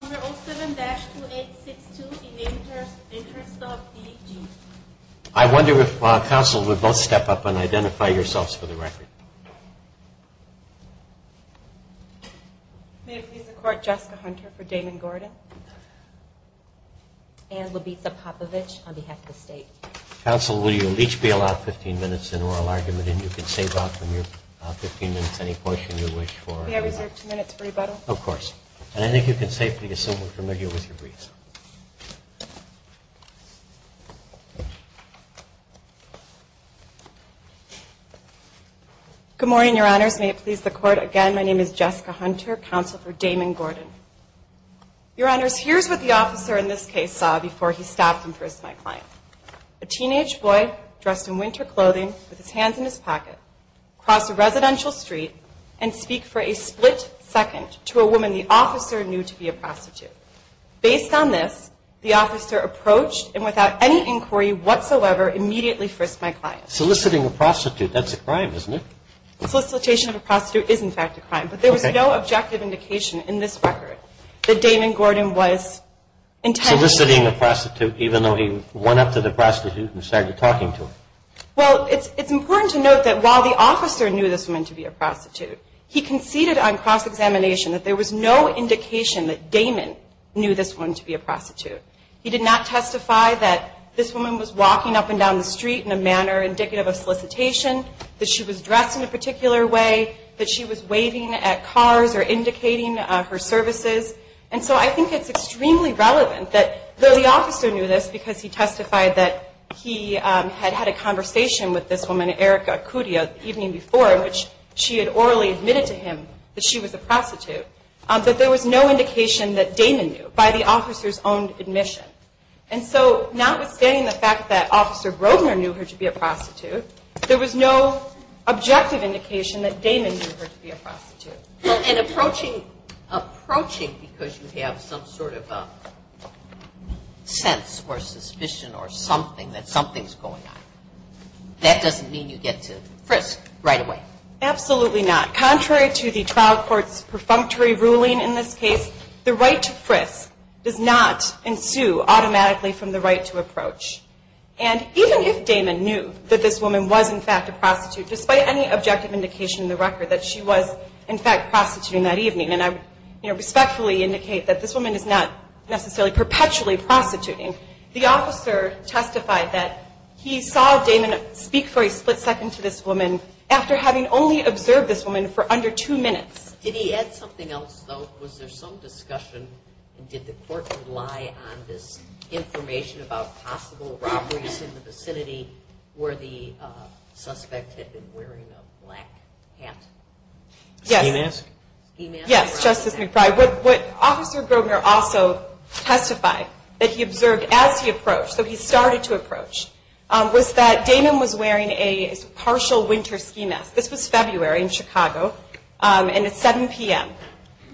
I wonder if counsel would both step up and identify yourselves for the record. May it please the court, Jessica Hunter for Damon Gordon and Labita Popovich on behalf of the state. Counsel, will you each be allowed 15 minutes in oral argument and you can save up from your 15 minutes any portion you wish for. Of course. And I think you can safely assume we're familiar with your briefs. Good morning, your honors. May it please the court again, my name is Jessica Hunter, counsel for Damon Gordon. Your honors, here's what the officer in this case saw before he stopped and pressed my client. A teenage boy dressed in winter clothing with his hands in his pocket crossed a residential street and speak for a split second to a woman the officer knew to be a prostitute. Based on this, the officer approached and without any inquiry whatsoever immediately frisked my client. Soliciting a prostitute, that's a crime, isn't it? Solicitation of a prostitute is in fact a crime. But there was no objective indication in this record that Damon Gordon was intentionally Soliciting a prostitute even though he went up to the prostitute and started talking to her. Well, it's important to note that while the officer knew this woman to be a prostitute, he conceded on cross-examination that there was no indication that Damon knew this woman to be a prostitute. He did not testify that this woman was walking up and down the street in a manner indicative of solicitation, that she was dressed in a particular way, that she was waving at cars or indicating her services. And so I think it's extremely relevant that though the officer knew this because he testified that he had had a conversation with this woman, Erica Acudia, the evening before, in which she had orally admitted to him that she was a prostitute, that there was no indication that Damon knew by the officer's own admission. And so notwithstanding the fact that Officer Grosvenor knew her to be a prostitute, there was no objective indication that Damon knew her to be a prostitute. Well, and approaching because you have some sort of sense or suspicion or something, that something's going on, that doesn't mean you get to frisk right away. Absolutely not. Contrary to the trial court's perfunctory ruling in this case, the right to frisk does not ensue automatically from the right to approach. And even if Damon knew that this woman was in fact a prostitute, despite any objective indication in the record that she was in fact prostituting that evening, and I would respectfully indicate that this woman is not necessarily perpetually prostituting, the officer testified that he saw Damon speak for a split second to this woman after having only observed this woman for under two minutes. Did he add something else, though? Was there some discussion and did the court rely on this information about possible robberies in the vicinity where the suspect had been wearing a black hat? A ski mask? Yes, Justice McBride. What Officer Grobner also testified that he observed as he approached, so he started to approach, was that Damon was wearing a partial winter ski mask. This was February in Chicago, and it's 7 p.m.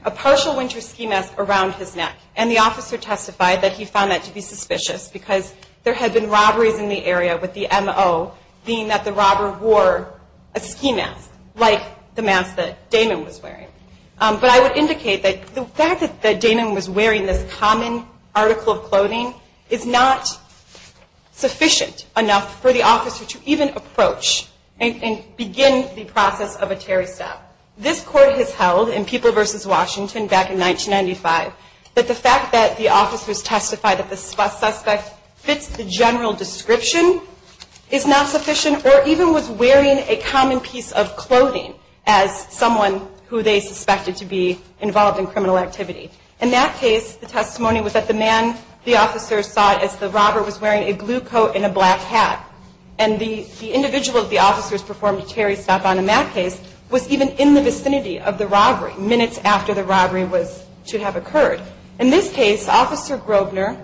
A partial winter ski mask around his neck, and the officer testified that he found that to be suspicious because there had been robberies in the area with the M.O. being that the robber wore a ski mask, like the mask that Damon was wearing. But I would indicate that the fact that Damon was wearing this common article of clothing is not sufficient enough for the officer to even approach and begin the process of a Terry stab. This court has held in People v. Washington back in 1995 that the fact that the officers testified that the suspect fits the general description is not sufficient or even was wearing a common piece of clothing as someone who they suspected to be involved in criminal activity. In that case, the testimony was that the man, the officer, saw it as the robber was wearing a blue coat and a black hat. And the individual that the officers performed a Terry stab on in that case was even in the vicinity of the robbery, minutes after the robbery was to have occurred. In this case, Officer Grobner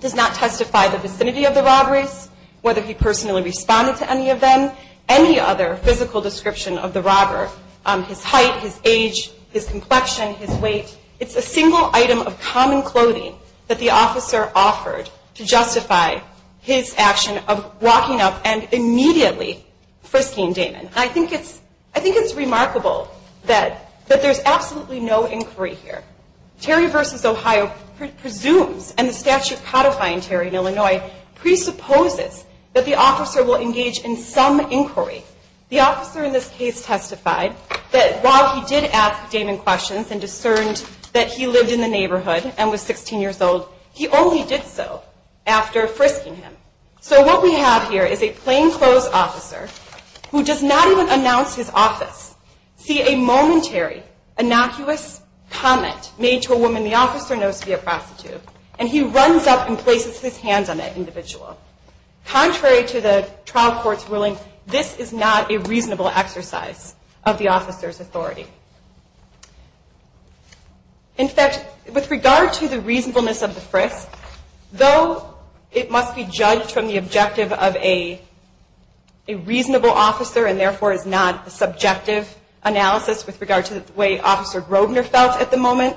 does not testify the vicinity of the robberies, whether he personally responded to any of them, any other physical description of the robber, his height, his age, his complexion, his weight. It's a single item of common clothing that the officer offered to justify his action of walking up and immediately frisking Damon. I think it's remarkable that there's absolutely no inquiry here. Terry v. Ohio presumes and the statute codifying Terry v. Illinois presupposes that the officer will engage in some inquiry. The officer in this case testified that while he did ask Damon questions and discerned that he lived in the neighborhood and was 16 years old, he only did so after frisking him. So what we have here is a plainclothes officer who does not even announce his office, see a momentary, innocuous comment made to a woman the officer knows to be a prostitute, and he runs up and places his hands on that individual. Contrary to the trial court's ruling, this is not a reasonable exercise of the officer's authority. In fact, with regard to the reasonableness of the frisk, though it must be judged from the objective of a reasonable officer and therefore is not a subjective analysis with regard to the way Officer Grobner felt at the moment,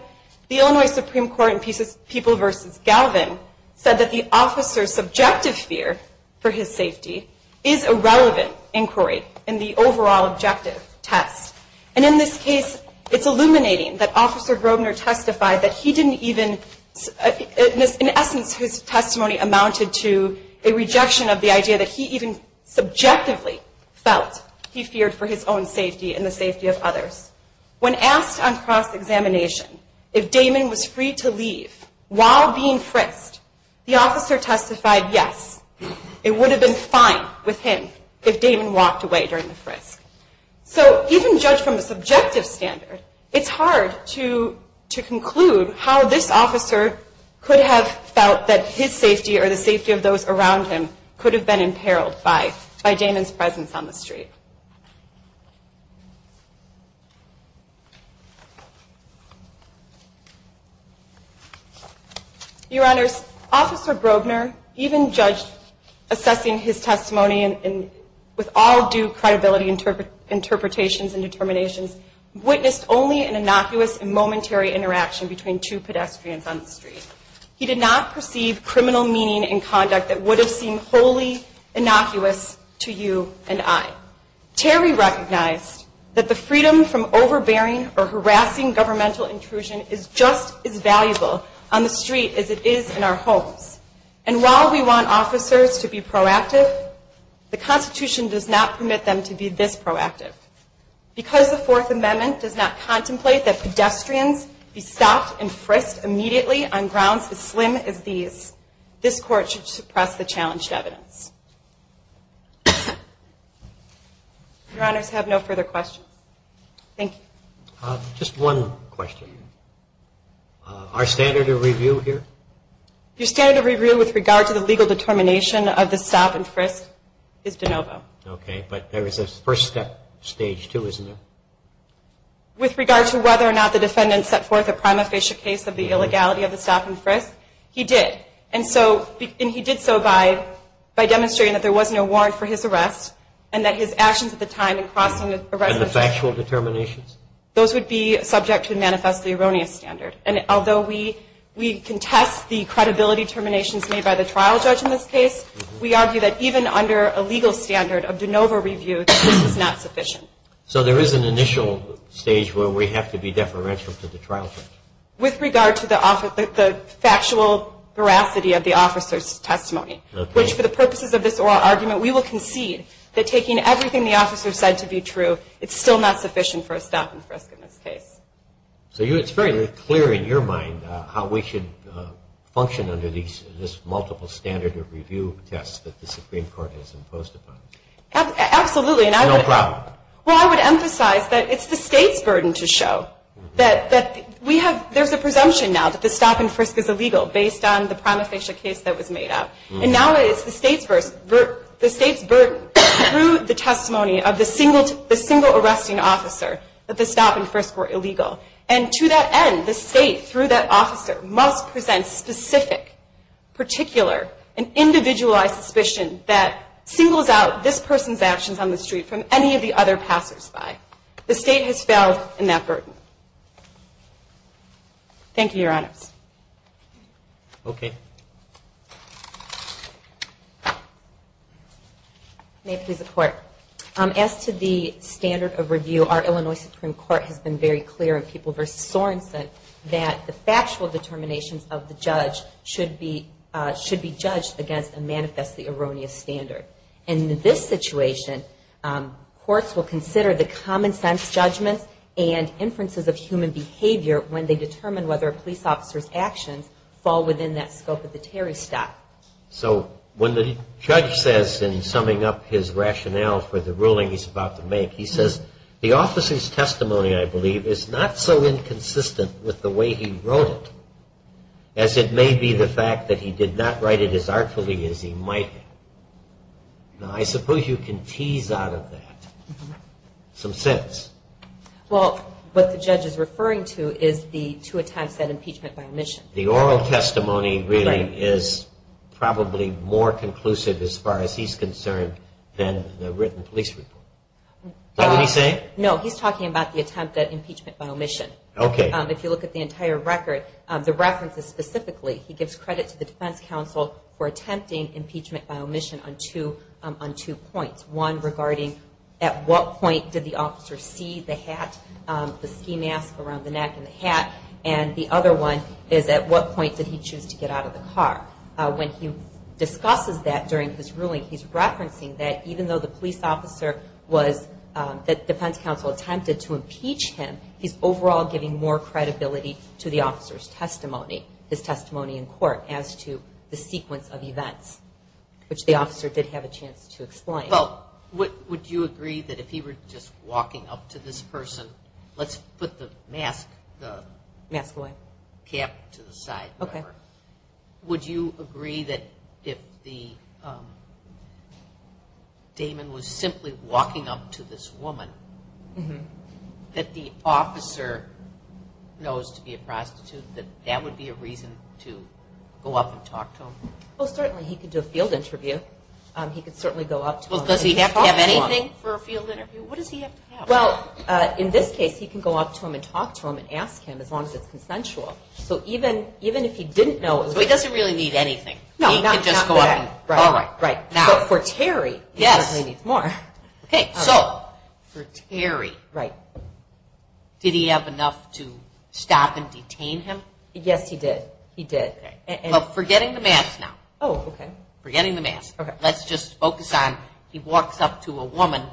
the Illinois Supreme Court in People v. Galvin said that the officer's subjective fear for his safety is a relevant inquiry in the overall objective test. And in this case, it's illuminating that Officer Grobner testified that he didn't even, in essence his testimony amounted to a rejection of the idea that he even subjectively felt he feared for his own safety and the safety of others. When asked on cross-examination if Damon was free to leave while being frisked, the officer testified yes, it would have been fine with him if Damon walked away during the frisk. So even judged from the subjective standard, it's hard to conclude how this officer could have felt that his safety or the safety of those around him could have been imperiled by Damon's presence on the street. Your Honors, Officer Grobner even judged assessing his testimony with all due credibility interpretations and determinations, witnessed only an innocuous and momentary interaction between two pedestrians on the street. He did not perceive criminal meaning and conduct that would have seemed wholly innocuous to you and I. Terry recognized that the freedom from overbearing or harassing governmental intrusion is just as valuable on the street as it is in our homes. And while we want officers to be proactive, the Constitution does not permit them to be this proactive. Because the Fourth Amendment does not contemplate that pedestrians be stopped and frisked immediately on grounds as slim as these, this Court should suppress the challenged evidence. Your Honors, I have no further questions. Thank you. Just one question. Our standard of review here? Your standard of review with regard to the legal determination of the stop and frisk is de novo. Okay, but there is a first step, stage two, isn't there? With regard to whether or not the defendant set forth a prima facie case of the illegality of the stop and frisk, he did. And he did so by demonstrating that there was no warrant for his arrest and that his actions at the time in crossing the And the factual determinations? Those would be subject to the manifestly erroneous standard. And although we contest the credibility determinations made by the trial judge in this case, we argue that even under a legal standard of de novo review, this is not sufficient. So there is an initial stage where we have to be deferential to the trial judge? With regard to the factual veracity of the officer's testimony, which for the purposes of this oral argument, we will concede that taking everything the officer said to be true, it's still not sufficient for a stop and frisk in this case. So it's very clear in your mind how we should function under this multiple standard of review test that the Supreme Court has imposed upon us? Absolutely. No problem. Well, I would emphasize that it's the state's burden to show that we have, there's a presumption now that the stop and frisk is illegal based on the prima facie case that was made up. And now it's the state's burden through the testimony of the single arresting officer that the stop and frisk were illegal. And to that end, the state, through that officer, must present specific, particular, and individualized suspicion that singles out this person's actions on the street from any of the other passersby. The state has failed in that burden. Thank you, Your Honors. Okay. May it please the Court. As to the standard of review, our Illinois Supreme Court has been very clear in People v. Sorenson that the factual determinations of the judge should be judged against a manifestly erroneous standard. In this situation, courts will consider the common sense judgments and inferences of human behavior when they determine whether a police officer's actions fall within that scope of the Terry stop. So when the judge says, in summing up his rationale for the ruling he's about to make, he says, the officer's testimony, I believe, is not so inconsistent with the way he wrote it, as it may be the fact that he did not write it as artfully as he might have. Now, I suppose you can tease out of that some sense. Well, what the judge is referring to is the two attempts at impeachment by omission. The oral testimony really is probably more conclusive as far as he's concerned than the written police report. Is that what he's saying? No, he's talking about the attempt at impeachment by omission. Okay. If you look at the entire record, the references specifically, he gives credit to the defense counsel for attempting impeachment by omission on two points. One regarding at what point did the officer see the hat, the ski mask around the neck and the hat, and the other one is at what point did he choose to get out of the car. When he discusses that during his ruling, he's referencing that even though the police officer was, that defense counsel attempted to impeach him, he's overall giving more credibility to the officer's testimony, his testimony in court, as to the sequence of events, which the officer did have a chance to explain. Well, would you agree that if he were just walking up to this person, let's put the mask, the cap to the side, would you agree that if Damon was simply walking up to this woman, that the officer knows to be a prostitute, that that would be a reason to go up and talk to him? Well, certainly. He could do a field interview. He could certainly go up to him and talk to him. Well, does he have to have anything for a field interview? What does he have to have? Well, in this case, he can go up to him and talk to him and ask him, as long as it's consensual. So even if he didn't know it was a prostitute. So he doesn't really need anything. No, not that. He can just go up and talk. Right. But for Terry, he certainly needs more. Okay, so for Terry, did he have enough to stop and detain him? Yes, he did. He did. Well, forgetting the mask now. Oh, okay. Forgetting the mask. Okay. Let's just focus on, he walks up to a woman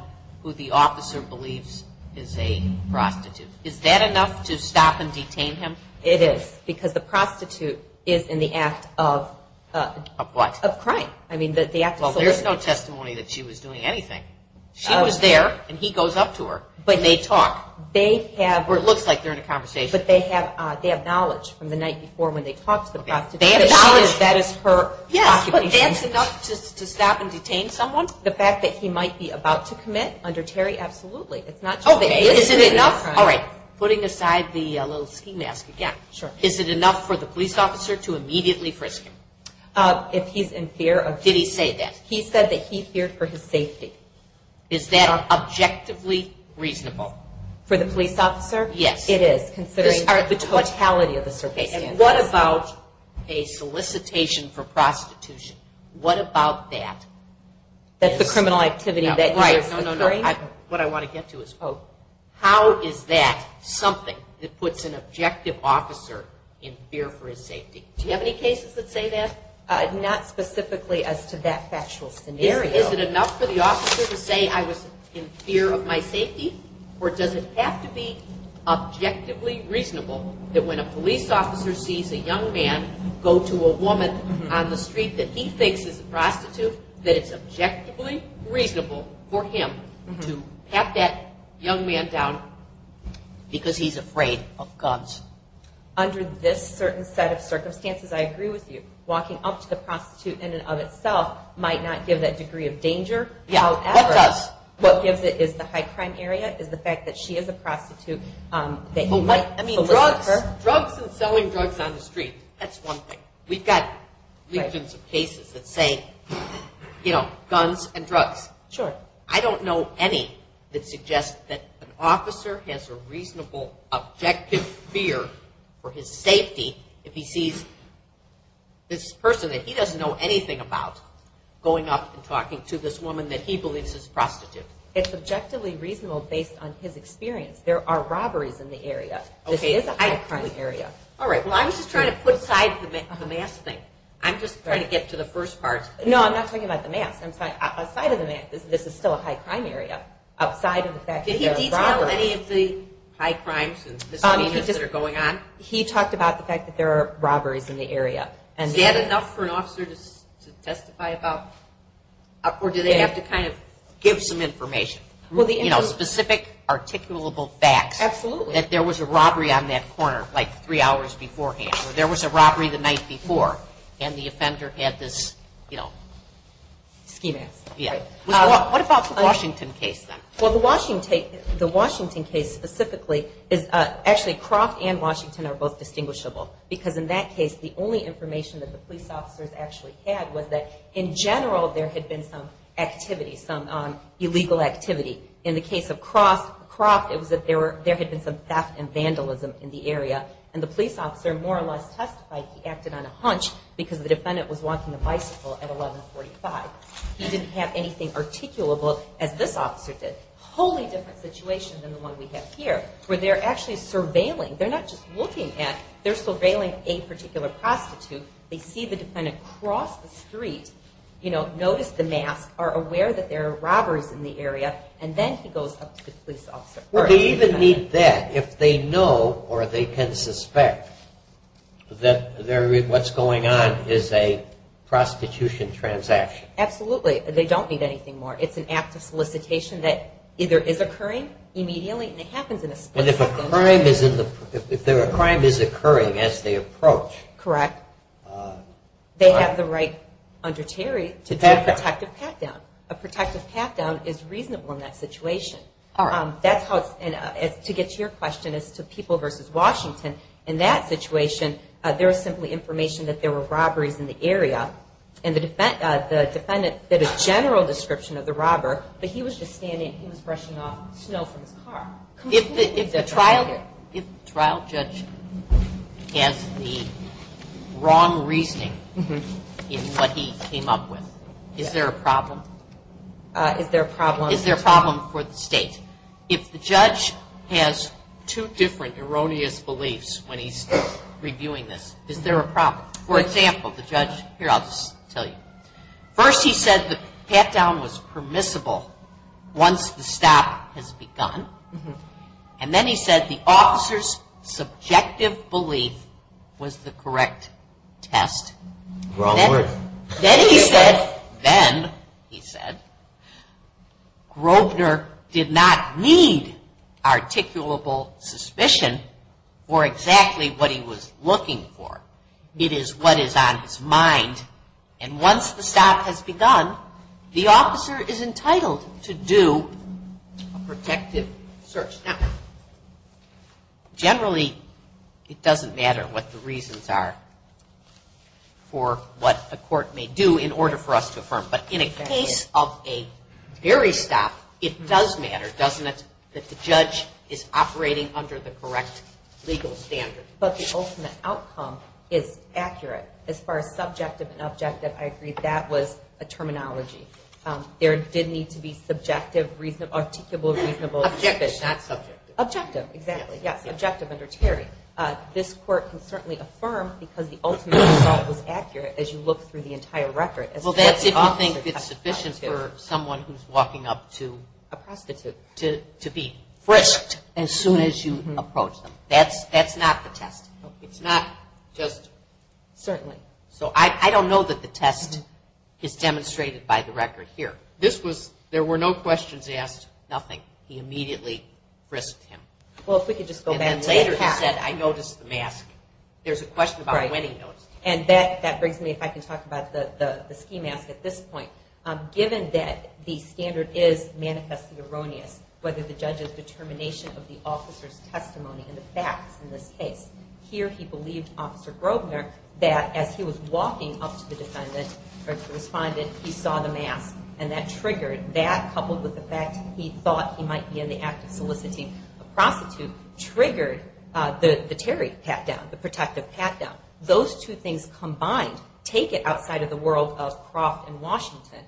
who the officer believes is a prostitute. Is that enough to stop and detain him? It is, because the prostitute is in the act of- Of what? Of crime. I mean, the act of soliciting. Well, there's no testimony that she was doing anything. She was there, and he goes up to her, and they talk. They have- Or it looks like they're in a conversation. But they have knowledge from the night before when they talked to the prostitute. They have knowledge. That is her occupation. Is that enough to stop and detain someone? The fact that he might be about to commit under Terry? Absolutely. It's not just- Oh, is it enough? All right. Putting aside the little ski mask again. Sure. Is it enough for the police officer to immediately frisk him? If he's in fear of- Did he say that? He said that he feared for his safety. Is that objectively reasonable? For the police officer? Yes. It is, considering the totality of the circumstances. What about a solicitation for prostitution? What about that? That's the criminal activity that- Right. No, no, no. What I want to get to is how is that something that puts an objective officer in fear for his safety? Do you have any cases that say that? Not specifically as to that factual scenario. Is it enough for the officer to say, I was in fear of my safety? Or does it have to be objectively reasonable that when a police officer sees a young man go to a woman on the street that he thinks is a prostitute, that it's objectively reasonable for him to pat that young man down because he's afraid of guns? Under this certain set of circumstances, I agree with you. Walking up to the prostitute in and of itself might not give that degree of danger. Yeah, what does? What gives it is the high crime area is the fact that she is a prostitute. Drugs and selling drugs on the street, that's one thing. We've got legions of cases that say, you know, guns and drugs. Sure. I don't know any that suggests that an officer has a reasonable objective fear for his safety if he sees this person that he doesn't know anything about going up and talking to this woman that he believes is a prostitute. It's objectively reasonable based on his experience. There are robberies in the area. Okay. This is a high crime area. All right. Well, I'm just trying to put aside the mask thing. I'm just trying to get to the first part. No, I'm not talking about the mask. Outside of the mask, this is still a high crime area. Outside of the fact that there are robberies. Did he detail any of the high crimes and misdemeanors that are going on? He talked about the fact that there are robberies in the area. Is that enough for an officer to testify about? Or do they have to kind of? Give some information. You know, specific articulable facts. Absolutely. That there was a robbery on that corner like three hours beforehand. Or there was a robbery the night before and the offender had this, you know. Schemax. Yeah. What about the Washington case then? Well, the Washington case specifically is actually Croft and Washington are both distinguishable. Because in that case, the only information that the police officers actually had was that in general there had been some activity, some illegal activity. In the case of Croft, it was that there had been some theft and vandalism in the area. And the police officer more or less testified he acted on a hunch because the defendant was walking a bicycle at 1145. He didn't have anything articulable as this officer did. A wholly different situation than the one we have here where they're actually surveilling. They're not just looking at. They're surveilling a particular prostitute. They see the defendant cross the street, you know, notice the mask, are aware that there are robberies in the area, and then he goes up to the police officer. Well, they even need that if they know or they can suspect that what's going on is a prostitution transaction. Absolutely. They don't need anything more. It's an act of solicitation that either is occurring immediately and it happens in a split second. And if a crime is occurring as they approach. Correct. They have the right under Terry to do a protective pat-down. A protective pat-down is reasonable in that situation. To get to your question as to people versus Washington, in that situation there is simply information that there were robberies in the area. And the defendant did a general description of the robber, but he was just standing and he was brushing off snow from his car. If the trial judge has the wrong reasoning in what he came up with, is there a problem? Is there a problem? Is there a problem for the state? If the judge has two different erroneous beliefs when he's reviewing this, is there a problem? For example, the judge, here I'll just tell you. First he said the pat-down was permissible once the stop has begun. And then he said the officer's subjective belief was the correct test. Wrong word. Then he said, then he said, Grobner did not need articulable suspicion for exactly what he was looking for. It is what is on his mind. And once the stop has begun, the officer is entitled to do a protective search. Now, generally it doesn't matter what the reasons are for what a court may do in order for us to affirm. But in a case of a very stop, it does matter, doesn't it, that the judge is operating under the correct legal standard. But the ultimate outcome is accurate. As far as subjective and objective, I agree that was a terminology. There did need to be subjective, articulable, reasonable suspicion. It's not subjective. Objective, exactly. Yes, objective under Terry. This court can certainly affirm because the ultimate result was accurate as you look through the entire record. Well, that's if you think it's sufficient for someone who's walking up to a prostitute to be frisked as soon as you approach them. That's not the test. It's not just. Certainly. So I don't know that the test is demonstrated by the record here. This was, there were no questions asked, nothing. He immediately frisked him. Well, if we could just go back. And then later he said, I noticed the mask. There's a question about when he noticed it. And that brings me, if I can talk about the ski mask at this point. Given that the standard is manifestly erroneous, whether the judge's determination of the officer's testimony and the facts in this case, here he believed, Officer Grobner, that as he was walking up to the defendant or to the respondent, he saw the mask. And that triggered, that coupled with the fact he thought he might be in the act of soliciting a prostitute, triggered the Terry pat-down, the protective pat-down. Those two things combined take it outside of the world of Croft and Washington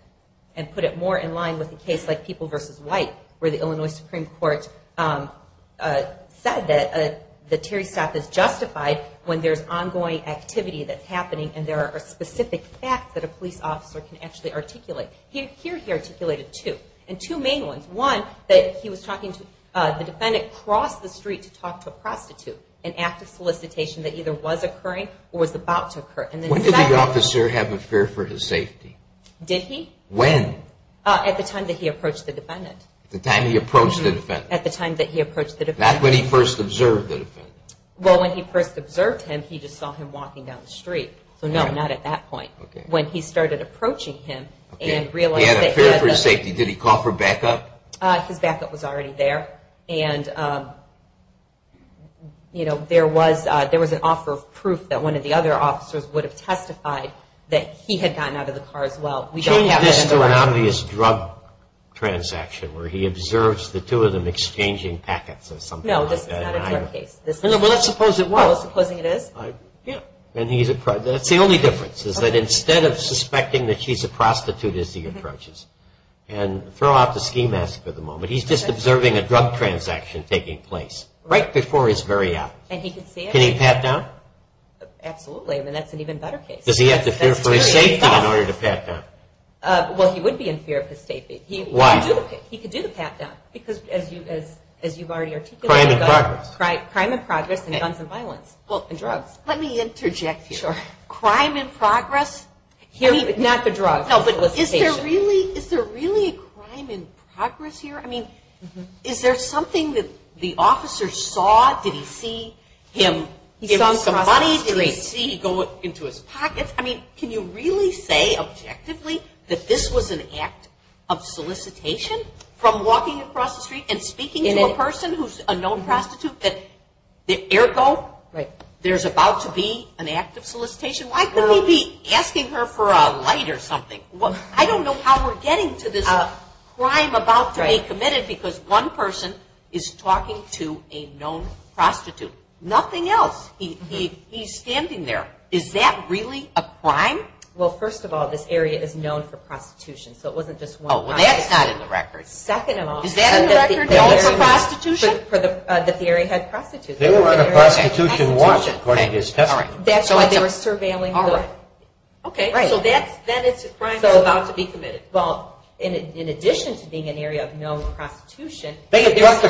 and put it more in line with a case like People v. White, where the Illinois Supreme Court said that the Terry staff is justified when there's ongoing activity that's happening and there are specific facts that a police officer can actually articulate. Here he articulated two. And two main ones. One, that he was talking to the defendant across the street to talk to a prostitute, an act of solicitation that either was occurring or was about to occur. When did the officer have a fear for his safety? Did he? When? At the time that he approached the defendant. At the time he approached the defendant. At the time that he approached the defendant. Not when he first observed the defendant. Well, when he first observed him, he just saw him walking down the street. So no, not at that point. When he started approaching him and realized that he had a fear for his safety, did he call for backup? His backup was already there. And, you know, there was an offer of proof that one of the other officers would have testified that he had gotten out of the car as well. We don't have that in the record. Change this to an obvious drug transaction where he observes the two of them exchanging packets or something like that. No, this is not a drug case. Well, let's suppose it was. Well, supposing it is. That's the only difference is that instead of suspecting that she's a prostitute as he approaches and throw out the ski mask for the moment, he's just observing a drug transaction taking place right before his very eyes. Can he pat down? Absolutely. I mean, that's an even better case. Does he have to fear for his safety in order to pat down? Well, he would be in fear of his safety. Why? He could do the pat down because as you've already articulated. Crime in progress. Crime in progress and guns and violence. Well, and drugs. Let me interject here. Crime in progress. I mean, not the drugs. No, but is there really a crime in progress here? I mean, is there something that the officer saw? Did he see him give him some money? Did he see him go into his pockets? And speaking to a person who's a known prostitute, that ergo, there's about to be an act of solicitation. Why could he be asking her for a light or something? I don't know how we're getting to this crime about to be committed because one person is talking to a known prostitute. Nothing else. He's standing there. Is that really a crime? Well, first of all, this area is known for prostitution, so it wasn't just one. Oh, well, that's not in the record. Second of all. Is that in the record at all for prostitution? That the area had prostitutes. They were on a prostitution watch, according to his testimony. That's why they were surveilling her. Okay, so then it's a crime that's about to be committed. Well, in addition to being an area of known prostitution, they talked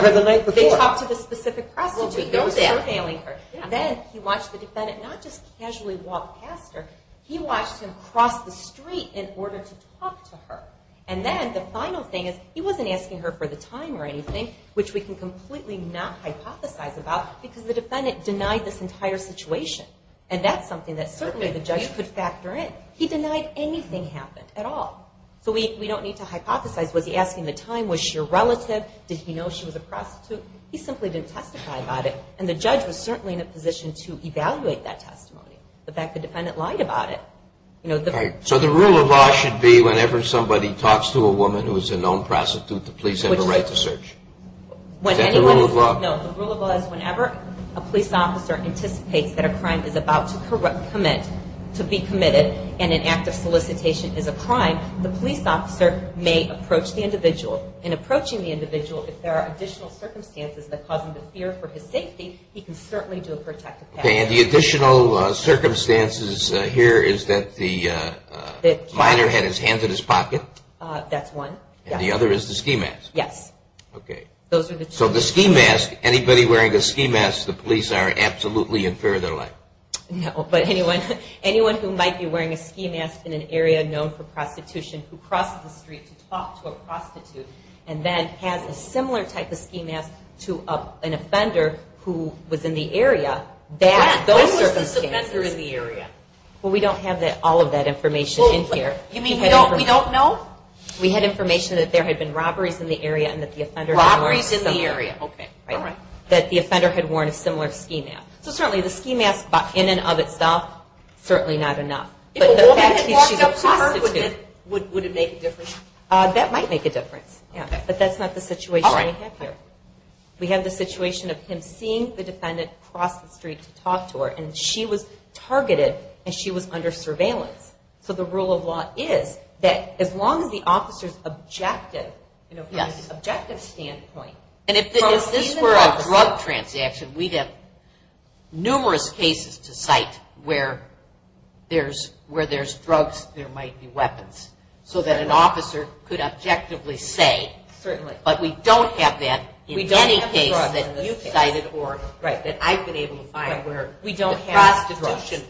to the specific prostitute who was surveilling her. Then he watched the defendant not just casually walk past her. He watched him cross the street in order to talk to her. And then the final thing is he wasn't asking her for the time or anything, which we can completely not hypothesize about because the defendant denied this entire situation. And that's something that certainly the judge could factor in. He denied anything happened at all. So we don't need to hypothesize. Was he asking the time? Was she a relative? Did he know she was a prostitute? He simply didn't testify about it, and the judge was certainly in a position to evaluate that testimony, the fact the defendant lied about it. So the rule of law should be whenever somebody talks to a woman who is a known prostitute, the police have a right to search. Is that the rule of law? No, the rule of law is whenever a police officer anticipates that a crime is about to be committed and an act of solicitation is a crime, the police officer may approach the individual. In approaching the individual, if there are additional circumstances that cause him to fear for his safety, he can certainly do a protective action. Okay, and the additional circumstances here is that the minor had his hand in his pocket. That's one. And the other is the ski mask. Yes. Okay. So the ski mask, anybody wearing a ski mask, the police are absolutely in fear of their life. No, but anyone who might be wearing a ski mask in an area known for prostitution who crossed the street to talk to a prostitute and then has a similar type of ski mask to an offender who was in the area, that's those circumstances. When was this offender in the area? Well, we don't have all of that information in here. You mean we don't know? We had information that there had been robberies in the area and that the offender had worn a similar. Robberies in the area, okay. That the offender had worn a similar ski mask. So certainly the ski mask in and of itself, certainly not enough. If a woman had walked up to her, would it make a difference? That might make a difference, yeah. But that's not the situation we have here. We have the situation of him seeing the defendant cross the street to talk to her, and she was targeted and she was under surveillance. So the rule of law is that as long as the officer's objective, from an objective standpoint. And if this were a drug transaction, we'd have numerous cases to cite where there's drugs, there might be weapons. So that an officer could objectively say, but we don't have that in any case that you've cited or that I've been able to find where the prostitution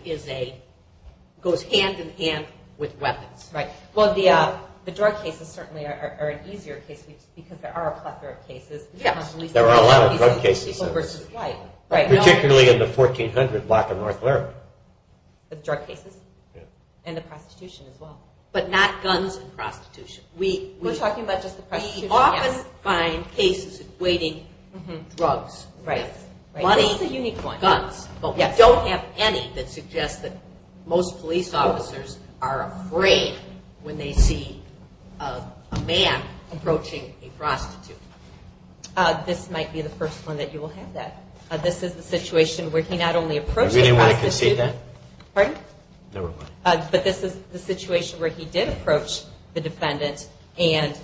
goes hand-in-hand with weapons. Well, the drug cases certainly are an easier case because there are a plethora of cases. There are a lot of drug cases. Particularly in the 1400 block of North Lurie. The drug cases? And the prostitution as well. But not guns and prostitution. We're talking about just the prostitution. We often find cases equating drugs with money, guns. But we don't have any that suggest that most police officers are afraid when they see a man approaching a prostitute. This might be the first one that you will have that. This is the situation where he not only approaches a prostitute. But this is the situation where he did approach the defendant and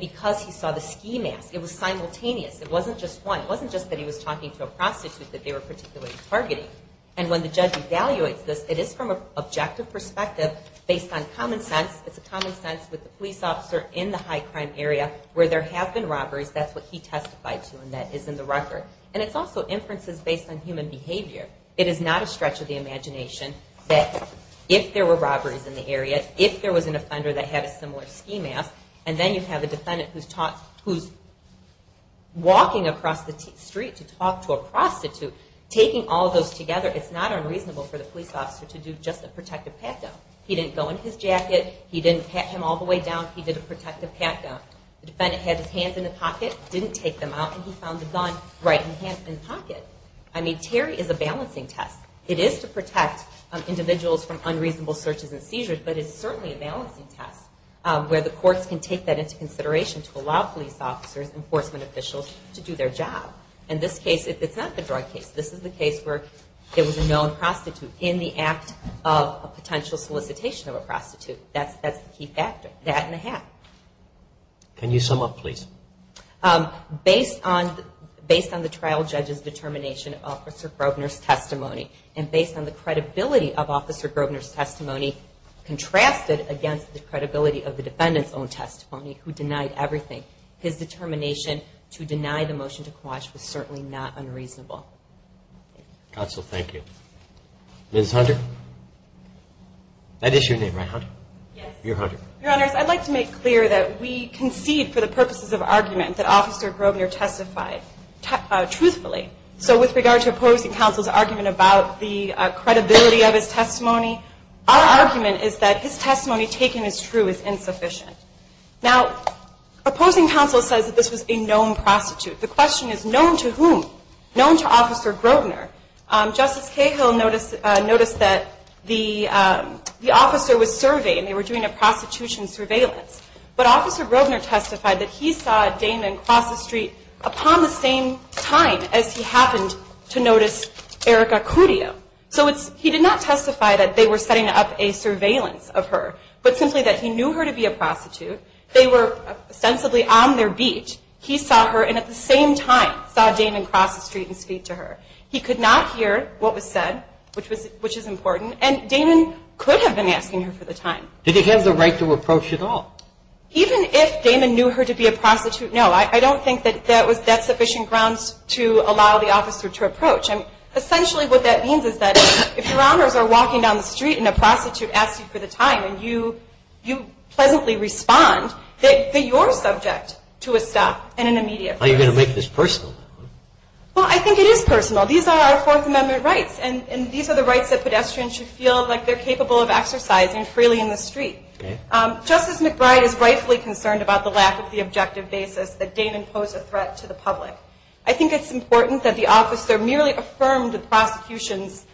because he saw the ski mask, it was simultaneous. It wasn't just one. It wasn't just that he was talking to a prostitute that they were particularly targeting. And when the judge evaluates this, it is from an objective perspective based on common sense. It's a common sense with the police officer in the high crime area where there have been robberies. That's what he testified to and that is in the record. And it's also inferences based on human behavior. It is not a stretch of the imagination that if there were robberies in the area, if there was an offender that had a similar ski mask, and then you have a defendant who's walking across the street to talk to a prostitute, taking all of those together, it's not unreasonable for the police officer to do just a protective pat down. He didn't go in his jacket. He didn't pat him all the way down. He did a protective pat down. The defendant had his hands in the pocket, didn't take them out, and he found the gun right in his pocket. I mean, Terry is a balancing test. It is to protect individuals from unreasonable searches and seizures, but it's certainly a balancing test where the courts can take that into consideration to allow police officers, enforcement officials to do their job. In this case, it's not the drug case. This is the case where it was a known prostitute in the act of a potential solicitation of a prostitute. That's the key factor, that and the hat. Can you sum up, please? Based on the trial judge's determination of Officer Grosvenor's testimony and based on the credibility of Officer Grosvenor's testimony contrasted against the credibility of the defendant's own testimony who denied everything, his determination to deny the motion to quash was certainly not unreasonable. Counsel, thank you. Ms. Hunter? That is your name, right, Hunter? Yes. You're Hunter. Your Honors, I'd like to make clear that we concede for the purposes of argument that Officer Grosvenor testified truthfully. So with regard to opposing counsel's argument about the credibility of his testimony, our argument is that his testimony taken as true is insufficient. Now, opposing counsel says that this was a known prostitute. The question is known to whom? Known to Officer Grosvenor. Justice Cahill noticed that the officer was surveyed and they were doing a prostitution surveillance. But Officer Grosvenor testified that he saw Damon cross the street upon the same time as he happened to notice Erica Cudjoe. So he did not testify that they were setting up a surveillance of her but simply that he knew her to be a prostitute. They were ostensibly on their beat. He saw her and at the same time saw Damon cross the street and speak to her. He could not hear what was said, which is important, and Damon could have been asking her for the time. Did he have the right to approach at all? Even if Damon knew her to be a prostitute, no. I don't think that that's sufficient grounds to allow the officer to approach. And essentially what that means is that if Your Honors are walking down the street and a prostitute asks you for the time and you pleasantly respond, then you're subject to a stop and an immediate arrest. Are you going to make this personal? Well, I think it is personal. These are our Fourth Amendment rights, and these are the rights that pedestrians should feel like they're capable of exercising freely in the street. Justice McBride is rightfully concerned about the lack of the objective basis that Damon posed a threat to the public. I think it's important that the officer merely affirm the prosecution's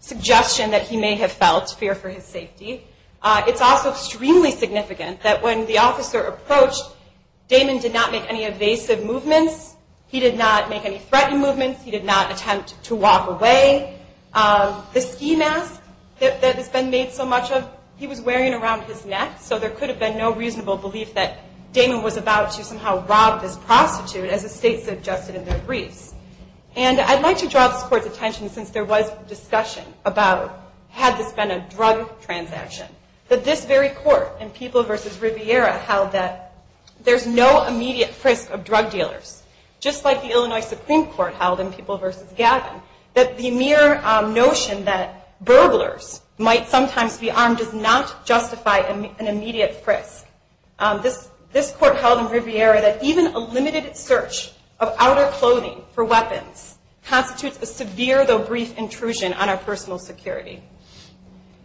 suggestion that he may have felt fear for his safety. It's also extremely significant that when the officer approached, Damon did not make any evasive movements. He did not make any threatened movements. He did not attempt to walk away. The ski mask that has been made so much of, he was wearing around his neck, so there could have been no reasonable belief that Damon was about to somehow rob this prostitute, as the State suggested in their briefs. And I'd like to draw this Court's attention, since there was discussion about had this been a drug transaction, that this very Court in People v. Riviera held that there's no immediate risk of drug dealers, just like the Illinois Supreme Court held in People v. Gavin, that the mere notion that burglars might sometimes be armed does not justify an immediate risk. This Court held in Riviera that even a limited search of outer clothing for weapons constitutes a severe, though brief, intrusion on our personal security.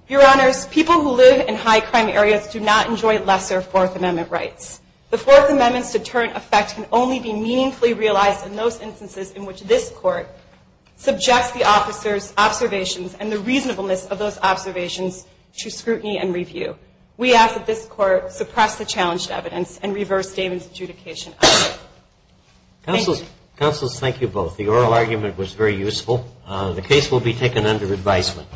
Your Honors, people who live in high crime areas do not enjoy lesser Fourth Amendment rights. The Fourth Amendment's deterrent effect can only be meaningfully realized in those instances in which this Court subjects the officer's observations and the reasonableness of those observations to scrutiny and review. We ask that this Court suppress the challenged evidence and reverse Damon's adjudication of it. Thank you. Counsel, thank you both. The oral argument was very useful. The case will be taken under advisement.